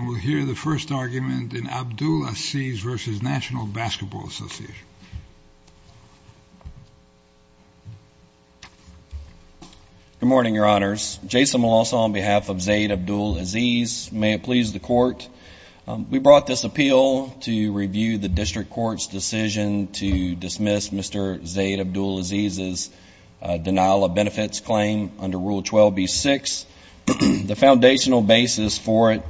We'll hear the first argument in Abdul-Aziz v. National Basketball Association. Good morning, Your Honors. Jason Milosa on behalf of Zayd Abdul-Aziz. May it please the Court, we brought this appeal to review the District Court's decision to dismiss Mr. Zayd Abdul-Aziz's denial of benefits claim under Rule 12b-6. The foundational basis for it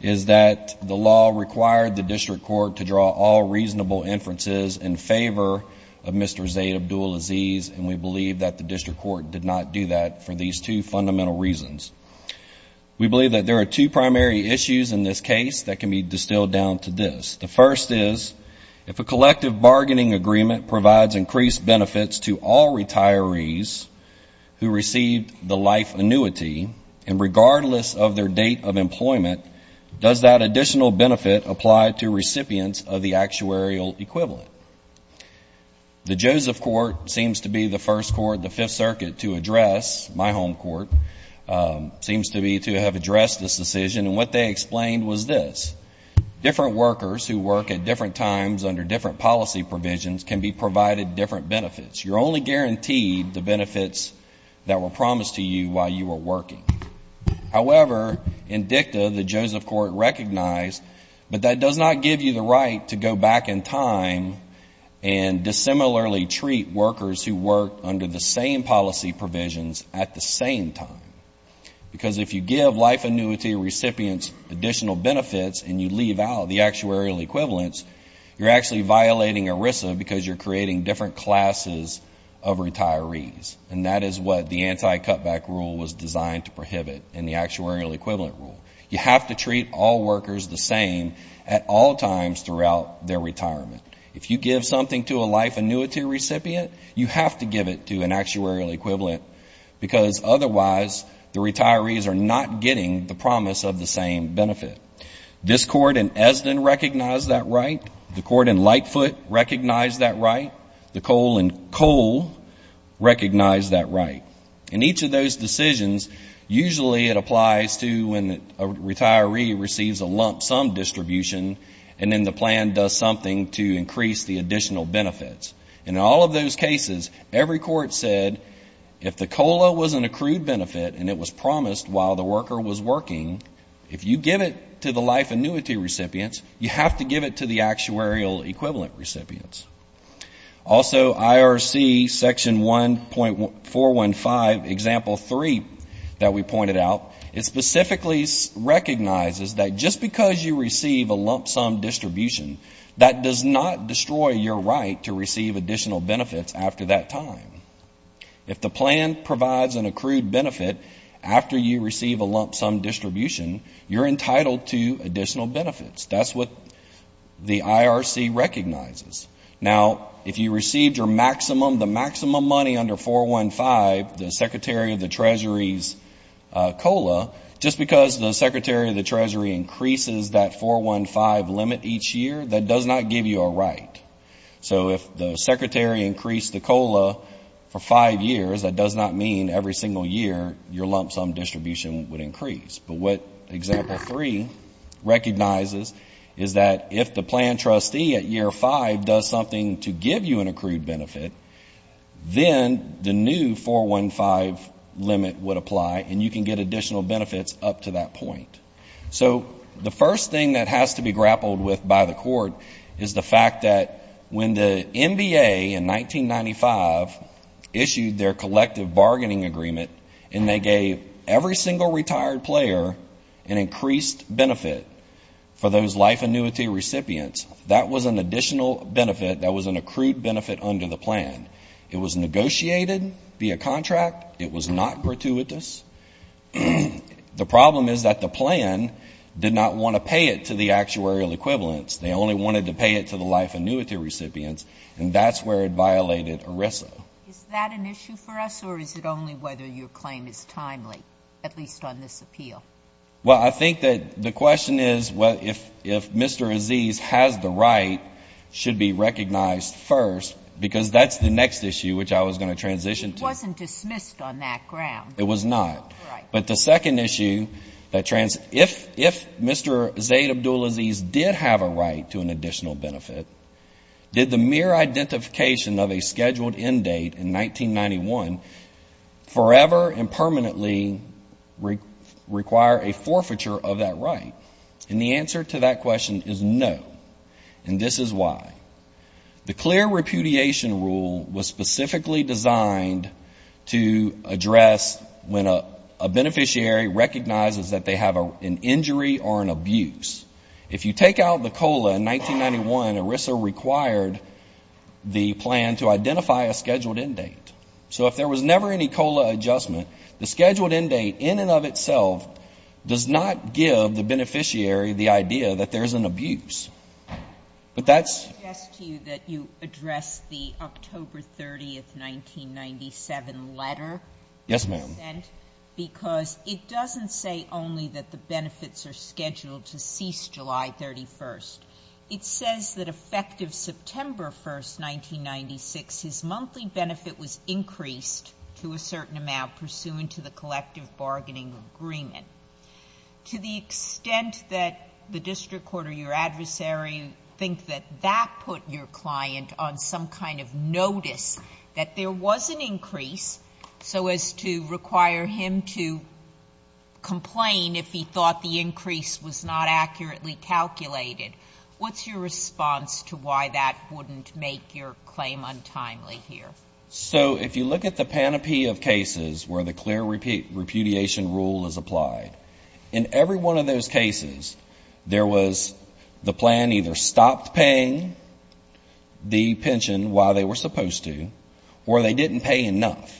is that the law required the District Court to draw all reasonable inferences in favor of Mr. Zayd Abdul-Aziz, and we believe that the District Court did not do that for these two fundamental reasons. We believe that there are two primary issues in this case that can be distilled down to this. The first is, if a collective bargaining agreement provides increased benefits to all retirees who received the life annuity, and regardless of their date of employment, does that additional benefit apply to recipients of the actuarial equivalent? The Joseph Court seems to be the first court, the Fifth Circuit, to address, my home court, seems to be to have addressed this decision, and what they explained was this. Different workers who work at different times under different policy provisions can be provided different benefits. You're only guaranteed the benefits that were promised to you while you were working. However, in dicta, the Joseph Court recognized, but that does not give you the right to go back in time and dissimilarly treat workers who work under the same policy provisions at the same time, because if you give life annuity recipients additional benefits and you leave out the actuarial equivalents, you're actually violating ERISA because you're creating different classes of retirees, and that is what the anti-cutback rule was designed to prohibit in the actuarial equivalent rule. You have to treat all workers the same at all times throughout their retirement. If you give something to a life annuity recipient, you have to give it to an actuarial equivalent because otherwise the retirees are not getting the promise of the same benefit. This court in Esdin recognized that right. The court in Lightfoot recognized that right. The coal in Cole recognized that right. In each of those decisions, usually it applies to when a retiree receives a lump sum distribution and then the plan does something to increase the additional benefits. In all of those cases, every court said if the COLA was an accrued benefit and it was to the life annuity recipients, you have to give it to the actuarial equivalent recipients. Also IRC section 1.415 example 3 that we pointed out, it specifically recognizes that just because you receive a lump sum distribution, that does not destroy your right to receive additional benefits after that time. If the plan provides an accrued benefit after you receive a lump sum distribution, you're entitled to additional benefits. That's what the IRC recognizes. Now if you received your maximum, the maximum money under 415, the Secretary of the Treasury's COLA, just because the Secretary of the Treasury increases that 415 limit each year, that does not give you a right. So if the Secretary increased the COLA for five years, that does not mean every single year your lump sum distribution would increase. But what example 3 recognizes is that if the plan trustee at year five does something to give you an accrued benefit, then the new 415 limit would apply and you can get additional benefits up to that point. So the first thing that has to be grappled with by the court is the fact that when the NBA in 1995 issued their collective bargaining agreement and they gave every single retired player an increased benefit for those life annuity recipients, that was an additional benefit that was an accrued benefit under the plan. It was negotiated via contract. It was not gratuitous. The problem is that the plan did not want to pay it to the actuarial equivalents. They only wanted to pay it to the life annuity recipients, and that's where it violated ERISA. Is that an issue for us, or is it only whether your claim is timely, at least on this appeal? Well, I think that the question is if Mr. Aziz has the right, should be recognized first, because that's the next issue which I was going to transition to. It wasn't dismissed on that ground. It was not. Right. But the second issue, if Mr. Zayd Abdul Aziz did have a right to an additional benefit, did the mere identification of a scheduled end date in 1991 forever and permanently require a forfeiture of that right? And the answer to that question is no, and this is why. The clear repudiation rule was specifically designed to address when a beneficiary recognizes that they have an injury or an abuse. If you take out the COLA in 1991, ERISA required the plan to identify a scheduled end date. So if there was never any COLA adjustment, the scheduled end date in and of itself does not give the beneficiary the idea that there's an abuse, but that's I would suggest to you that you address the October 30, 1997 letter you sent, because it doesn't say only that the benefits are scheduled to cease July 31. It says that effective September 1, 1996, his monthly benefit was increased to a certain amount pursuant to the collective bargaining agreement. To the extent that the district court or your adversary think that that put your client on some kind of notice that there was an increase so as to require him to complain if he thought the increase was not accurately calculated, what's your response to why that wouldn't make your claim untimely here? So if you look at the panoply of cases where the clear repudiation rule is applied, in they were supposed to, or they didn't pay enough.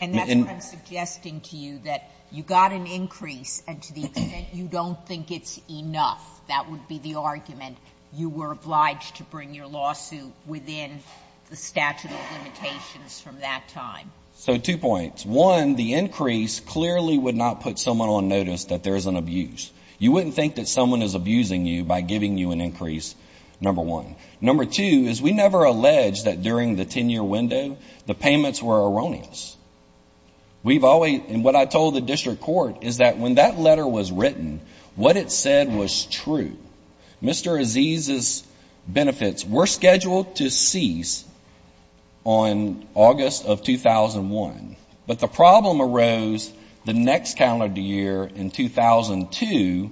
And that's what I'm suggesting to you, that you got an increase and to the extent you don't think it's enough, that would be the argument. You were obliged to bring your lawsuit within the statute of limitations from that time. So two points. One, the increase clearly would not put someone on notice that there's an abuse. You wouldn't think that someone is abusing you by giving you an increase, number one. Number two is we never allege that during the 10-year window, the payments were erroneous. We've always, and what I told the district court is that when that letter was written, what it said was true. Mr. Aziz's benefits were scheduled to cease on August of 2001, but the problem arose the next calendar year in 2002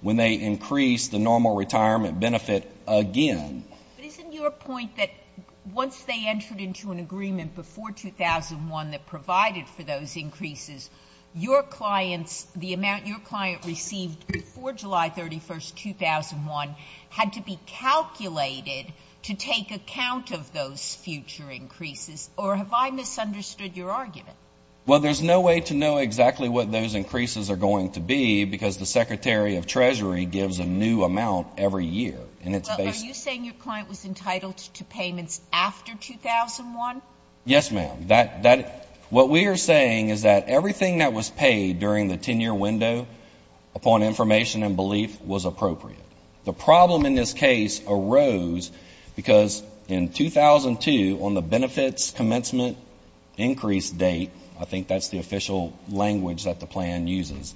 when they increased the normal retirement benefit again. But isn't your point that once they entered into an agreement before 2001 that provided for those increases, your clients, the amount your client received before July 31st, 2001, had to be calculated to take account of those future increases? Or have I misunderstood your argument? Well, there's no way to know exactly what those increases are going to be because the Secretary of Treasury gives a new amount every year. Well, are you saying your client was entitled to payments after 2001? Yes, ma'am. What we are saying is that everything that was paid during the 10-year window upon information and belief was appropriate. The problem in this case arose because in 2002, on the benefits commencement increase date, I think that's the official language that the plan uses,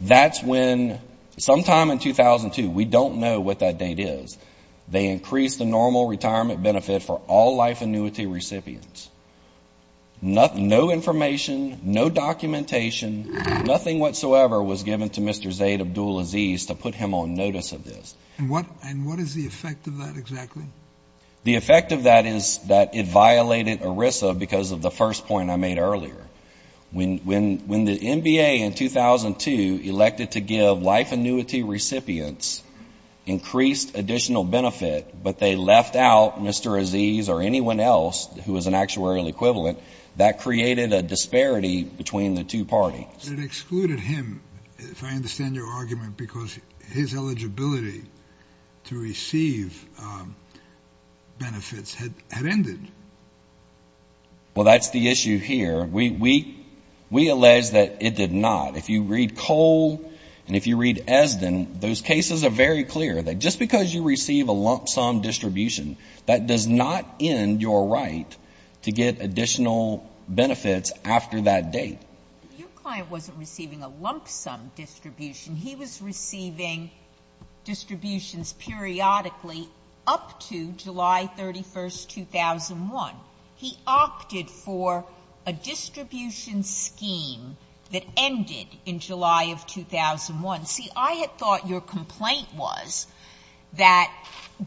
that's when, sometime in 2002, we don't know what that date is, they increased the normal retirement benefit for all life annuity recipients. No information, no documentation, nothing whatsoever was given to Mr. Zayd Abdul-Aziz to put him on notice of this. And what is the effect of that exactly? The effect of that is that it violated ERISA because of the first point I made earlier. When the NBA in 2002 elected to give life annuity recipients increased additional benefit, but they left out Mr. Aziz or anyone else who was an actuarial equivalent, that created a disparity between the two parties. It excluded him, if I understand your argument, because his eligibility to receive benefits had ended. Well, that's the issue here. We allege that it did not. If you read Cole and if you read Esden, those cases are very clear that just because you receive a lump sum distribution, that does not end your right to get additional benefits after that date. Your client wasn't receiving a lump sum distribution. He was receiving distributions periodically up to July 31, 2001. He opted for a distribution scheme that ended in July of 2001. See, I had thought your complaint was that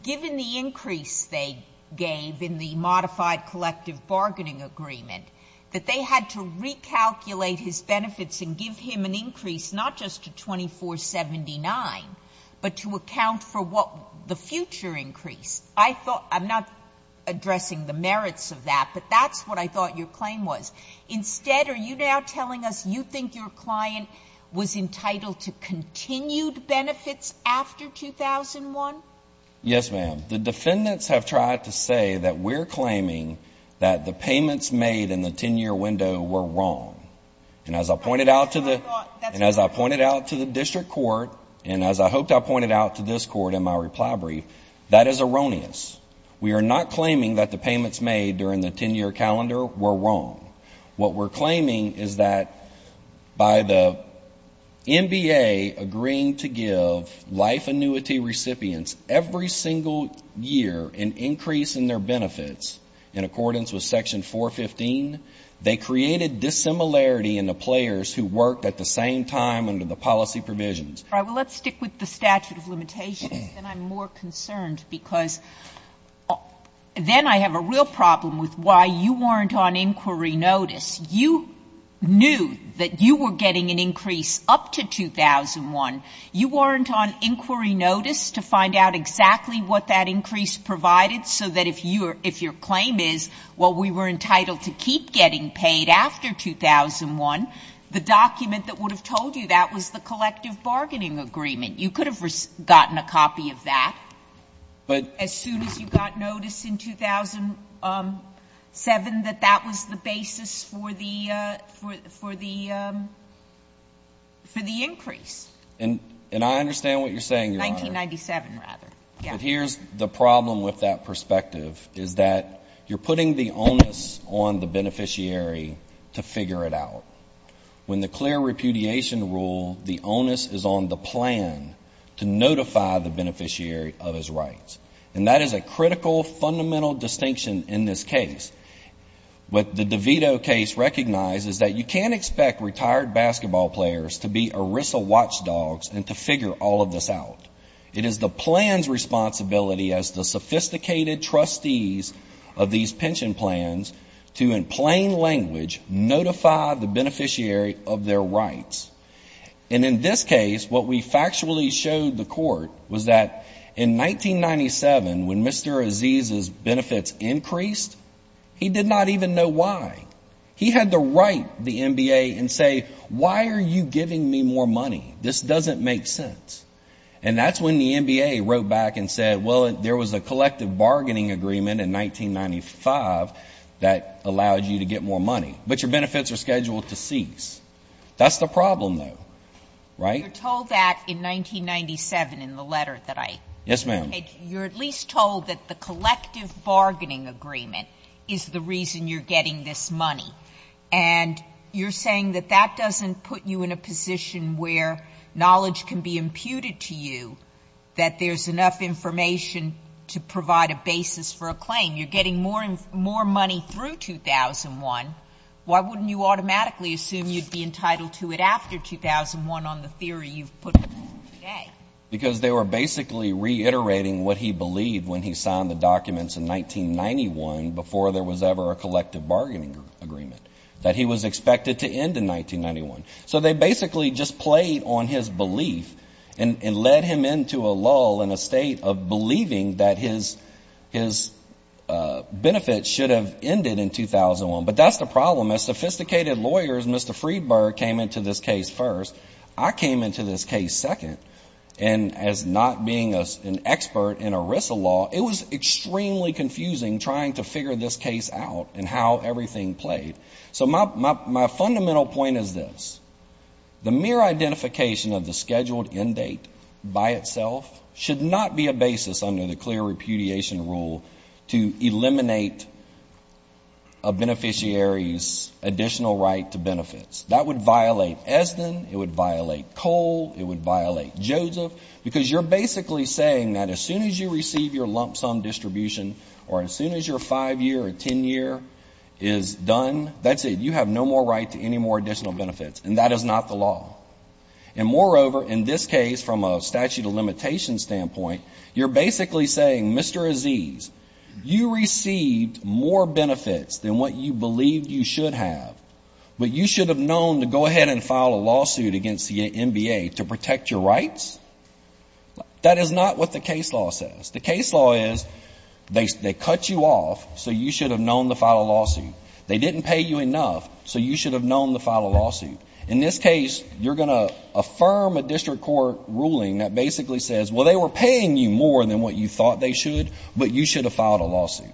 given the increase they gave in the modified collective bargaining agreement, that they had to recalculate his benefits and give him an increase not just to 2479, but to account for what the future increase. I thought, I'm not addressing the merits of that, but that's what I thought your claim was. Instead, are you now telling us you think your client was entitled to continued benefits after 2001? Yes, ma'am. The defendants have tried to say that we're claiming that the payments made in the 10-year window were wrong. And as I pointed out to the district court, and as I hoped I pointed out to this court in my reply brief, that is erroneous. We are not claiming that the payments made during the 10-year calendar were wrong. What we're claiming is that by the NBA agreeing to give life annuity recipients every single year an increase in their benefits in accordance with Section 415, they created dissimilarity in the players who worked at the same time under the policy provisions. All right. Well, let's stick with the statute of limitations, and I'm more concerned because then I have a real problem with why you weren't on inquiry notice. You knew that you were getting an increase up to 2001. You weren't on inquiry notice to find out exactly what that increase provided so that if your claim is, well, we were entitled to keep getting paid after 2001, the document that would have told you that was the collective bargaining agreement. You could have gotten a copy of that as soon as you got notice in 2007 that that was the basis for the increase. And I understand what you're saying, Your Honor. 1997, rather. But here's the problem with that perspective, is that you're putting the onus on the beneficiary to figure it out. When the clear repudiation rule, the onus is on the plan to notify the beneficiary of his rights. And that is a critical, fundamental distinction in this case. What the DeVito case recognizes is that you can't expect retired basketball players to be ERISA watchdogs and to figure all of this out. It is the plan's responsibility as the sophisticated trustees of these pension plans to, in plain language, notify the beneficiary of their rights. And in this case, what we factually showed the court was that in 1997, when Mr. Aziz's benefits increased, he did not even know why. He had to write the NBA and say, why are you giving me more money? This doesn't make sense. And that's when the NBA wrote back and said, well, there was a collective bargaining agreement in 1995 that allowed you to get more money. But your benefits are scheduled to cease. That's the problem, though. Right? You're told that in 1997 in the letter that I read. Yes, ma'am. You're at least told that the collective bargaining agreement is the reason you're getting this money. And you're saying that that doesn't put you in a position where knowledge can be imputed to you that there's enough information to provide a basis for a claim. You're getting more money through 2001. Why wouldn't you automatically assume you'd be entitled to it after 2001 on the theory you've put forth today? Because they were basically reiterating what he believed when he signed the documents in 1991 before there was ever a collective bargaining agreement, that he was expected to end in 1991. So they basically just played on his belief and led him into a lull in a state of believing that his benefits should have ended in 2001. But that's the problem. As sophisticated lawyers, Mr. Friedberg came into this case first. I came into this case second. And as not being an expert in ERISA law, it was extremely confusing trying to figure this case out and how everything played. So my fundamental point is this. The mere identification of the scheduled end date by itself should not be a basis under the clear repudiation rule to eliminate a beneficiary's additional right to benefits. That would violate ESDN, it would violate COLE, it would violate JOSEPH, because you're basically saying that as soon as you receive your lump sum distribution or as soon as your 5-year or 10-year is done, that's it. You have no more right to any more additional benefits. And that is not the law. And moreover, in this case, from a statute of limitations standpoint, you're basically saying, Mr. Aziz, you received more benefits than what you believed you should have, but you should have known to go ahead and file a lawsuit against the NBA to protect your rights? That is not what the case law says. The case law is they cut you off, so you should have known to file a lawsuit. They didn't pay you enough, so you should have known to file a lawsuit. In this case, you're going to affirm a district court ruling that basically says, well, they were paying you more than what you thought they should, but you should have filed a lawsuit.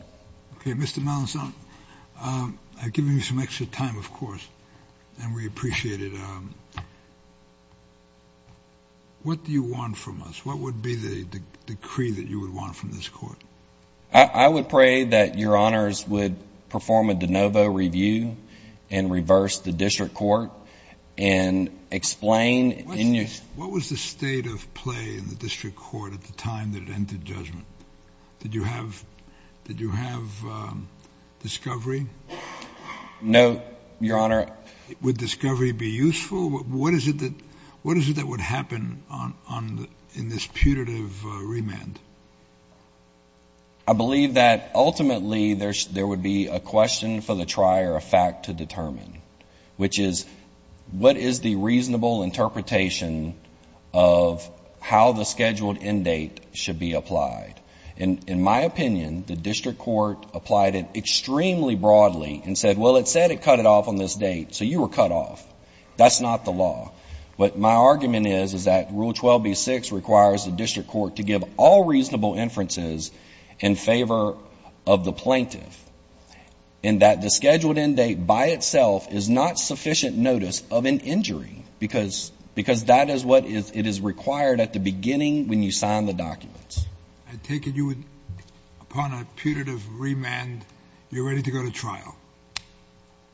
Okay. Mr. Melanzon, I've given you some extra time, of course, and we appreciate it. What do you want from us? What would be the decree that you would want from this court? I would pray that your honors would perform a de novo review and reverse the district court and explain. What was the state of play in the district court at the time that it entered judgment? Did you have, did you have, um, discovery? No, your honor. Would discovery be useful? What is it that, what is it that would happen on, on the, in this putative remand? I believe that ultimately there, there would be a question for the trier of fact to determine, which is what is the reasonable interpretation of how the scheduled end date should be applied? In my opinion, the district court applied it extremely broadly and said, well, it said it cut it off on this date, so you were cut off. That's not the law. What my argument is, is that rule 12B-6 requires the district court to give all reasonable inferences in favor of the plaintiff and that the scheduled end date by itself is not sufficient notice of an injury because, because that is what is, it is required at the beginning when you sign the documents. I take it you would, upon a putative remand, you're ready to go to trial?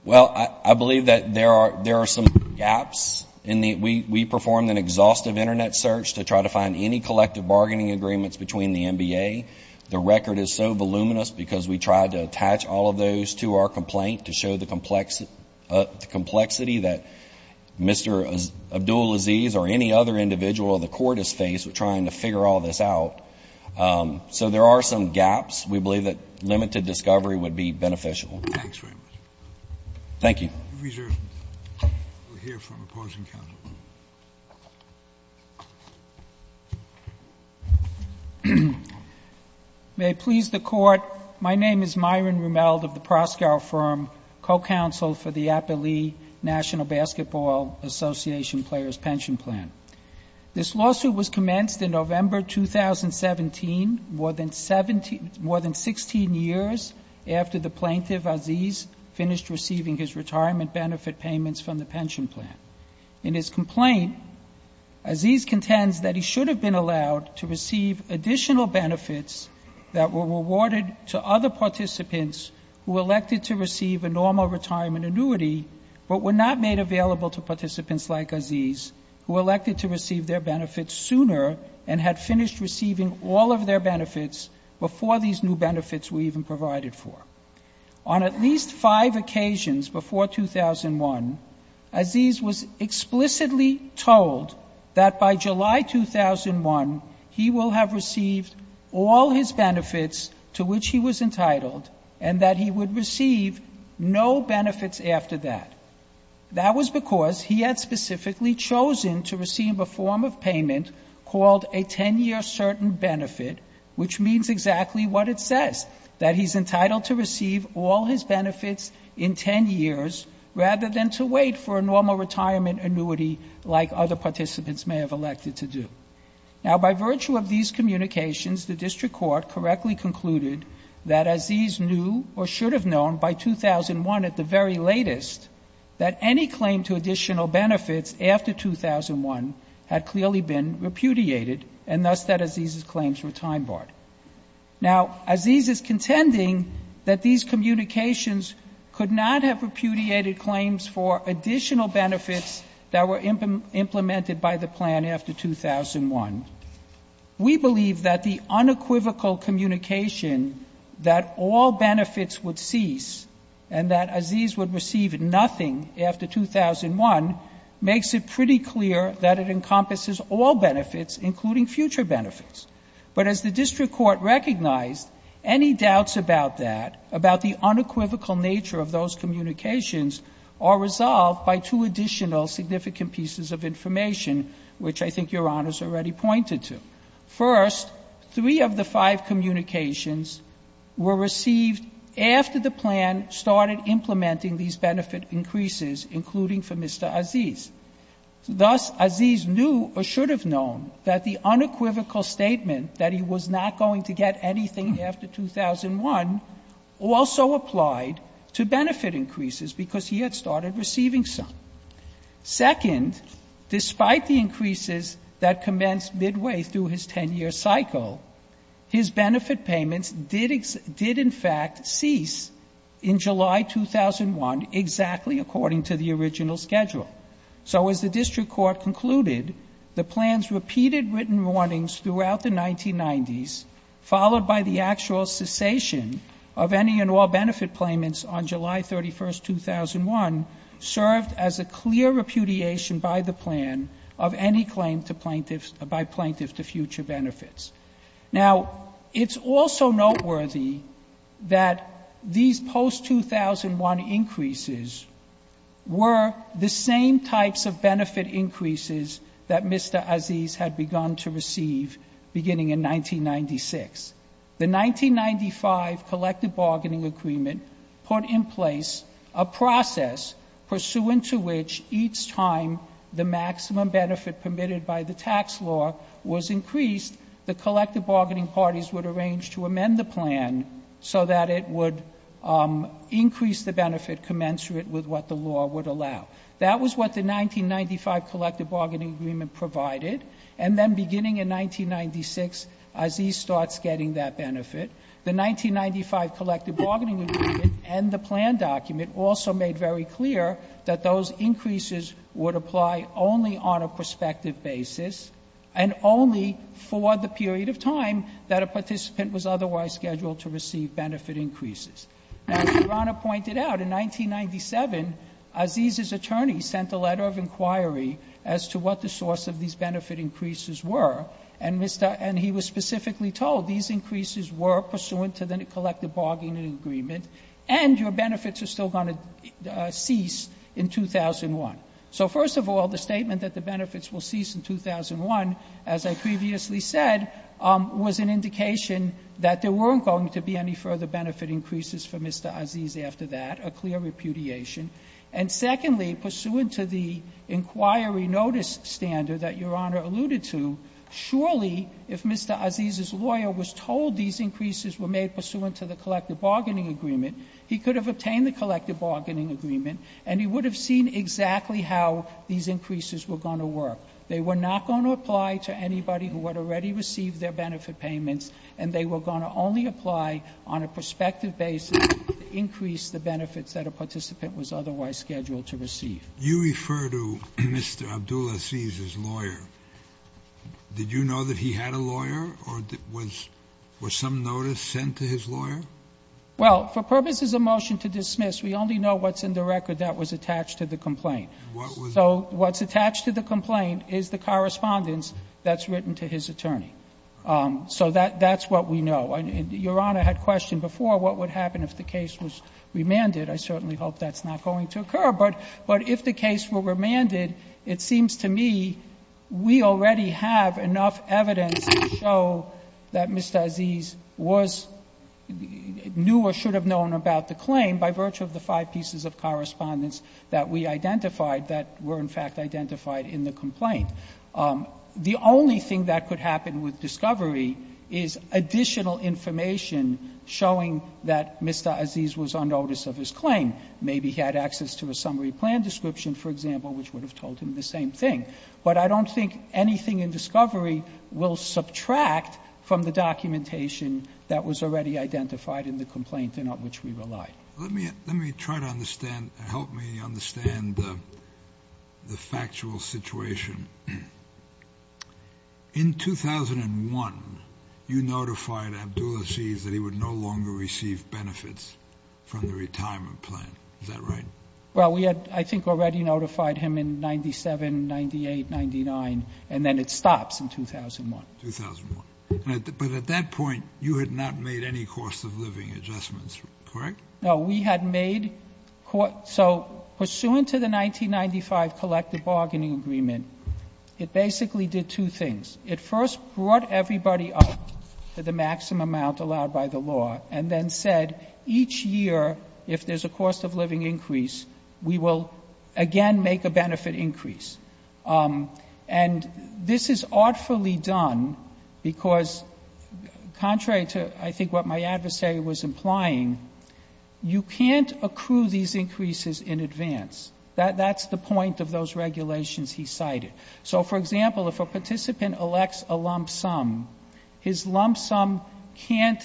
Well, I, I believe that there are, there are some gaps in the, we, we performed an exhaustive internet search to try to find any collective bargaining agreements between the NBA. The record is so voluminous because we tried to attach all of those to our complaint to show the complexity, the complexity that Mr. Abdulaziz or any other individual of the court is faced with trying to figure all this out. Um, so there are some gaps. We believe that limited discovery would be beneficial. Thanks very much. Thank you. We reserve, we'll hear from opposing counsel. May it please the court. My name is Myron Rumeld of the Proscow Firm, co-counsel for the Appalee National Basketball Association Players' Pension Plan. This lawsuit was commenced in November 2017, more than 17, more than 16 years after the plaintiff, Aziz, finished receiving his retirement benefit payments from the pension plan. In his complaint, Aziz contends that he should have been allowed to receive additional benefits that were rewarded to other participants who were elected to receive a normal retirement annuity but were not made available to participants like Aziz, who were elected to receive their benefits sooner and had finished receiving all of their benefits before these new benefits were even provided for. On at least five occasions before 2001, Aziz was explicitly told that by July 2001, he will have received all his benefits to which he was entitled and that he would receive no benefits after that. That was because he had specifically chosen to receive a form of payment called a 10-year certain benefit, which means exactly what it says, that he's entitled to receive all his benefits in 10 years rather than to wait for a normal retirement annuity like other participants may have elected to do. Now, by virtue of these communications, the district court correctly concluded that Aziz knew or should have known by 2001 at the very latest that any claim to additional benefits after 2001 had clearly been repudiated and thus that Aziz's claims were time-barred. Now Aziz is contending that these communications could not have repudiated claims for additional benefits that were implemented by the plan after 2001. We believe that the unequivocal communication that all benefits would cease and that Aziz would receive nothing after 2001 makes it pretty clear that it encompasses all benefits, including future benefits. But as the district court recognized, any doubts about that, about the unequivocal nature of those communications, are resolved by two additional significant pieces of information, which I think Your Honor has already pointed to. First, three of the five communications were received after the plan started implementing these benefit increases, including for Mr. Aziz. Thus, Aziz knew or should have known that the unequivocal statement that he was not going to get anything after 2001 also applied to benefit increases because he had started receiving some. Second, despite the increases that commenced midway through his 10-year cycle, his benefit payments did in fact cease in July 2001 exactly according to the original schedule. So as the district court concluded, the plan's repeated written warnings throughout the 1990s, followed by the actual cessation of any and all benefit payments on July 31, 2001, served as a clear repudiation by the plan of any claim to plaintiffs, by plaintiffs to future benefits. Now it's also noteworthy that these post-2001 increases were the same types of benefit increases that Mr. Aziz had begun to receive beginning in 1996. The 1995 collective bargaining agreement put in place a process pursuant to which each time the maximum benefit permitted by the tax law was increased, the collective bargaining parties would arrange to amend the plan so that it would increase the benefit commensurate with what the law would allow. That was what the 1995 collective bargaining agreement provided. And then beginning in 1996, Aziz starts getting that benefit. The 1995 collective bargaining agreement and the plan document also made very clear that those increases would apply only on a prospective basis and only for the period of time that a participant was otherwise scheduled to receive benefit increases. As Your Honor pointed out, in 1997, Aziz's attorney sent a letter of inquiry as to what the source of these benefit increases were, and he was specifically told these increases were pursuant to the collective bargaining agreement, and your benefits are still going to cease in 2001. So first of all, the statement that the benefits will cease in 2001, as I previously said, was an indication that there weren't going to be any further benefit increases for Mr. Aziz after that, a clear repudiation. And secondly, pursuant to the inquiry notice standard that Your Honor alluded to, surely if Mr. Aziz's lawyer was told these increases were made pursuant to the collective bargaining agreement, he could have obtained the collective bargaining agreement and he would have seen exactly how these increases were going to work. They were not going to apply to anybody who had already received their benefit payments, and they were going to only apply on a prospective basis to increase the benefits that a participant was otherwise scheduled to receive. You refer to Mr. Abdul Aziz's lawyer. Did you know that he had a lawyer, or was some notice sent to his lawyer? Well, for purposes of motion to dismiss, we only know what's in the record that was attached to the complaint. So what's attached to the complaint is the correspondence that's written to his attorney. So that's what we know. Your Honor had questioned before what would happen if the case was remanded. I certainly hope that's not going to occur. But if the case were remanded, it seems to me we already have enough evidence to show that Mr. Aziz was new or should have known about the claim by virtue of the five pieces of correspondence that we identified that were in fact identified in the complaint. The only thing that could happen with discovery is additional information showing that Mr. Aziz was on notice of his claim. Maybe he had access to a summary plan description, for example, which would have told him the same thing. But I don't think anything in discovery will subtract from the documentation that was already identified in the complaint in which we relied. Let me try to understand, help me understand the factual situation. In 2001, you notified Abdul Aziz that he would no longer receive benefits from the retirement plan, is that right? Well, we had, I think, already notified him in 97, 98, 99, and then it stops in 2001. 2001, but at that point, you had not made any cost of living adjustments, correct? No, we had made, so pursuant to the 1995 collective bargaining agreement, it basically did two things. It first brought everybody up to the maximum amount allowed by the law, and then said each year, if there's a cost of living increase, we will again make a benefit increase. And this is artfully done because contrary to, I think, what my adversary was implying, you can't accrue these increases in advance. That's the point of those regulations he cited. So for example, if a participant elects a lump sum, his lump sum can't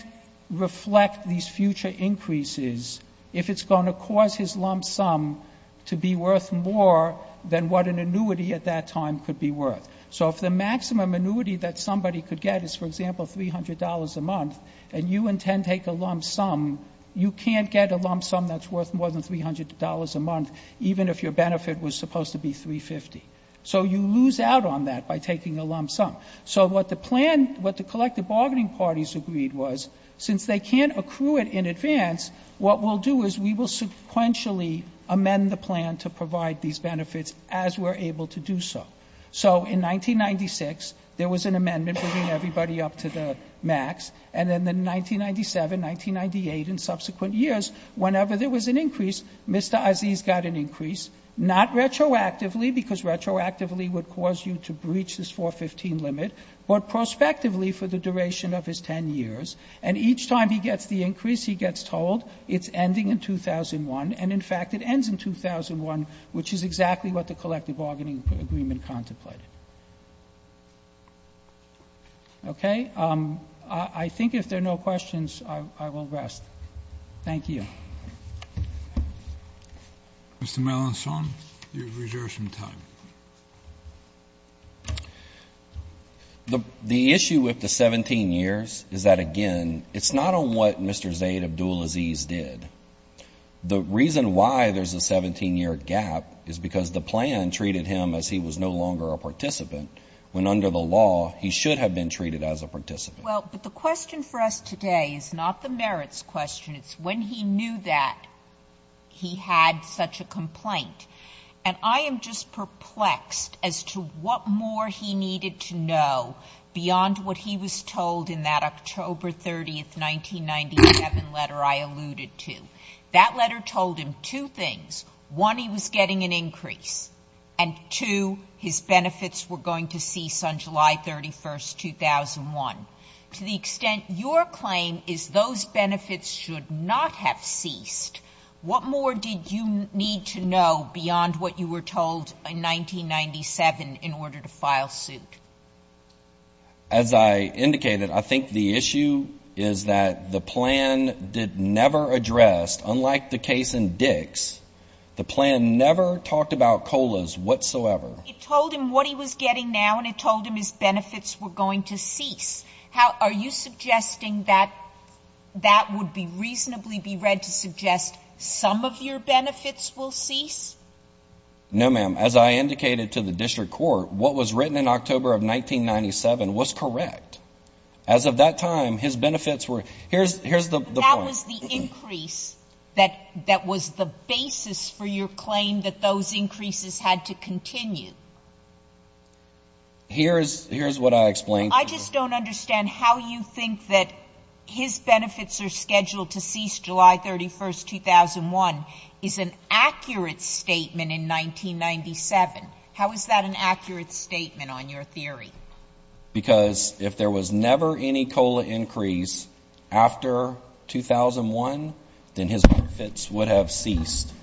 reflect these future increases if it's going to cause his lump sum to be worth more than what an annuity at that time could be worth. So if the maximum annuity that somebody could get is, for example, $300 a month, and you tend to take a lump sum, you can't get a lump sum that's worth more than $300 a month even if your benefit was supposed to be $350. So you lose out on that by taking a lump sum. So what the plan, what the collective bargaining parties agreed was, since they can't accrue it in advance, what we'll do is we will sequentially amend the plan to provide these benefits as we're able to do so. So in 1996, there was an amendment bringing everybody up to the max, and then in 1997, 1998, and subsequent years, whenever there was an increase, Mr. Aziz got an increase, not retroactively, because retroactively would cause you to breach this 415 limit, but prospectively for the duration of his 10 years. And each time he gets the increase, he gets told it's ending in 2001, and in fact, it ends in 2001, which is exactly what the collective bargaining agreement contemplated. Okay? I think if there are no questions, I will rest. Thank you. Mr. Melanson, you have reserved some time. The issue with the 17 years is that, again, it's not on what Mr. Zaid Abdulaziz did. The reason why there's a 17-year gap is because the plan treated him as he was no longer a participant, when under the law, he should have been treated as a participant. Well, but the question for us today is not the merits question. It's when he knew that he had such a complaint. And I am just perplexed as to what more he needed to know beyond what he was told in that October 30th, 1997 letter I alluded to. That letter told him two things. One, he was getting an increase. And two, his benefits were going to cease on July 31st, 2001. To the extent your claim is those benefits should not have ceased, what more did you need to know beyond what you were told in 1997 in order to file suit? As I indicated, I think the issue is that the plan did never address, unlike the case in Dix, the plan never talked about COLAs whatsoever. It told him what he was getting now and it told him his benefits were going to cease. Are you suggesting that that would reasonably be read to suggest some of your benefits will cease? No, ma'am. As I indicated to the district court, what was written in October of 1997 was correct. As of that time, his benefits were, here's the point. That was the increase that was the basis for your claim that those increases had to continue. Here's what I explained to you. I just don't understand how you think that his benefits are scheduled to cease July 31st, 2001 is an accurate statement in 1997. How is that an accurate statement on your theory? Because if there was never any COLA increase after 2001, then his benefits would have ceased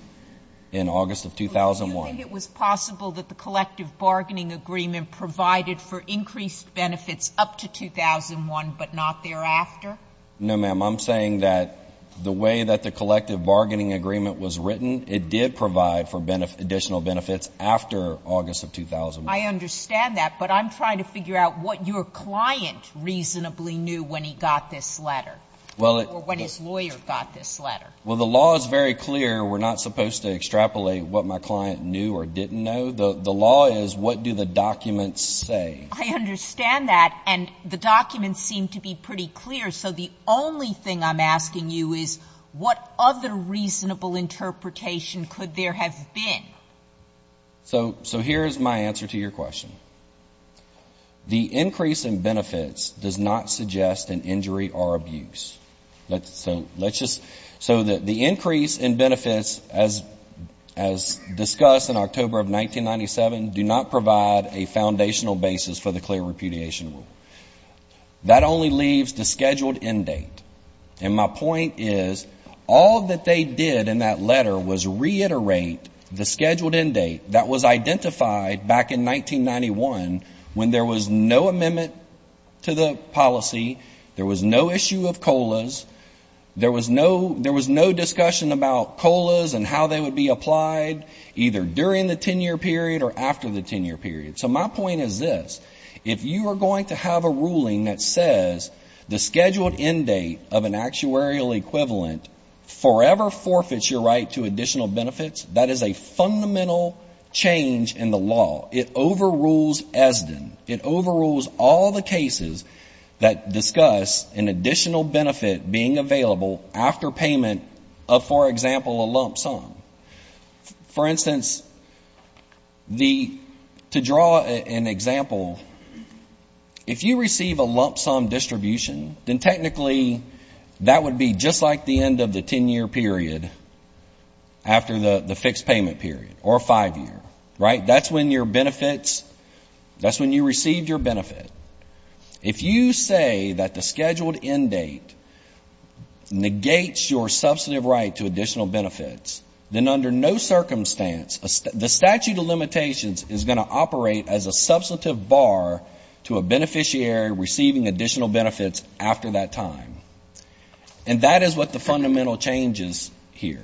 in August of 2001. Do you think it was possible that the collective bargaining agreement provided for increased benefits up to 2001 but not thereafter? No, ma'am. I'm saying that the way that the collective bargaining agreement was written, it did provide for additional benefits after August of 2001. I understand that. But I'm trying to figure out what your client reasonably knew when he got this letter or when his lawyer got this letter. Well, the law is very clear. We're not supposed to extrapolate what my client knew or didn't know. The law is what do the documents say. I understand that. And the documents seem to be pretty clear. So the only thing I'm asking you is what other reasonable interpretation could there have been? So here is my answer to your question. The increase in benefits does not suggest an injury or abuse. So the increase in benefits, as discussed in October of 1997, do not provide a foundational basis for the clear repudiation rule. That only leaves the scheduled end date. And my point is all that they did in that letter was reiterate the scheduled end date that was identified back in 1991 when there was no amendment to the policy, there was no issue of COLAs, there was no discussion about COLAs and how they would be applied either during the 10-year period or after the 10-year period. So my point is this. If you are going to have a ruling that says the scheduled end date of an actuarial equivalent forever forfeits your right to additional benefits, that is a fundamental change in the law. It overrules ESDN. It overrules all the cases that discuss an additional benefit being available after payment of, for example, a lump sum. For instance, to draw an example, if you receive a lump sum distribution, then technically that would be just like the end of the 10-year period after the fixed payment period or five-year, right? That's when your benefits, that's when you received your benefit. If you say that the scheduled end date negates your substantive right to additional benefits, then under no circumstance, the statute of limitations is going to operate as a substantive bar to a beneficiary receiving additional benefits after that time. And that is what the fundamental change is here.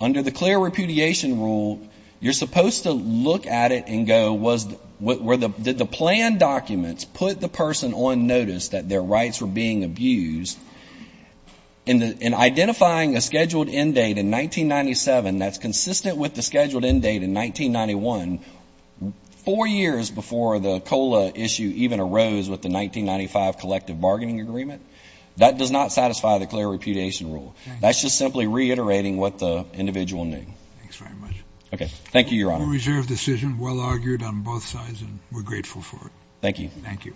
Under the clear repudiation rule, you're supposed to look at it and go, did the plan documents put the person on notice that their rights were being abused? In identifying a scheduled end date in 1997 that's consistent with the scheduled end date in 1991, four years before the COLA issue even arose with the 1995 collective bargaining agreement, that does not satisfy the clear repudiation rule. That's just simply reiterating what the individual knew. Okay. Thank you, Your Honor. Well-reserved decision, well-argued on both sides, and we're grateful for it. Thank you. Thank you.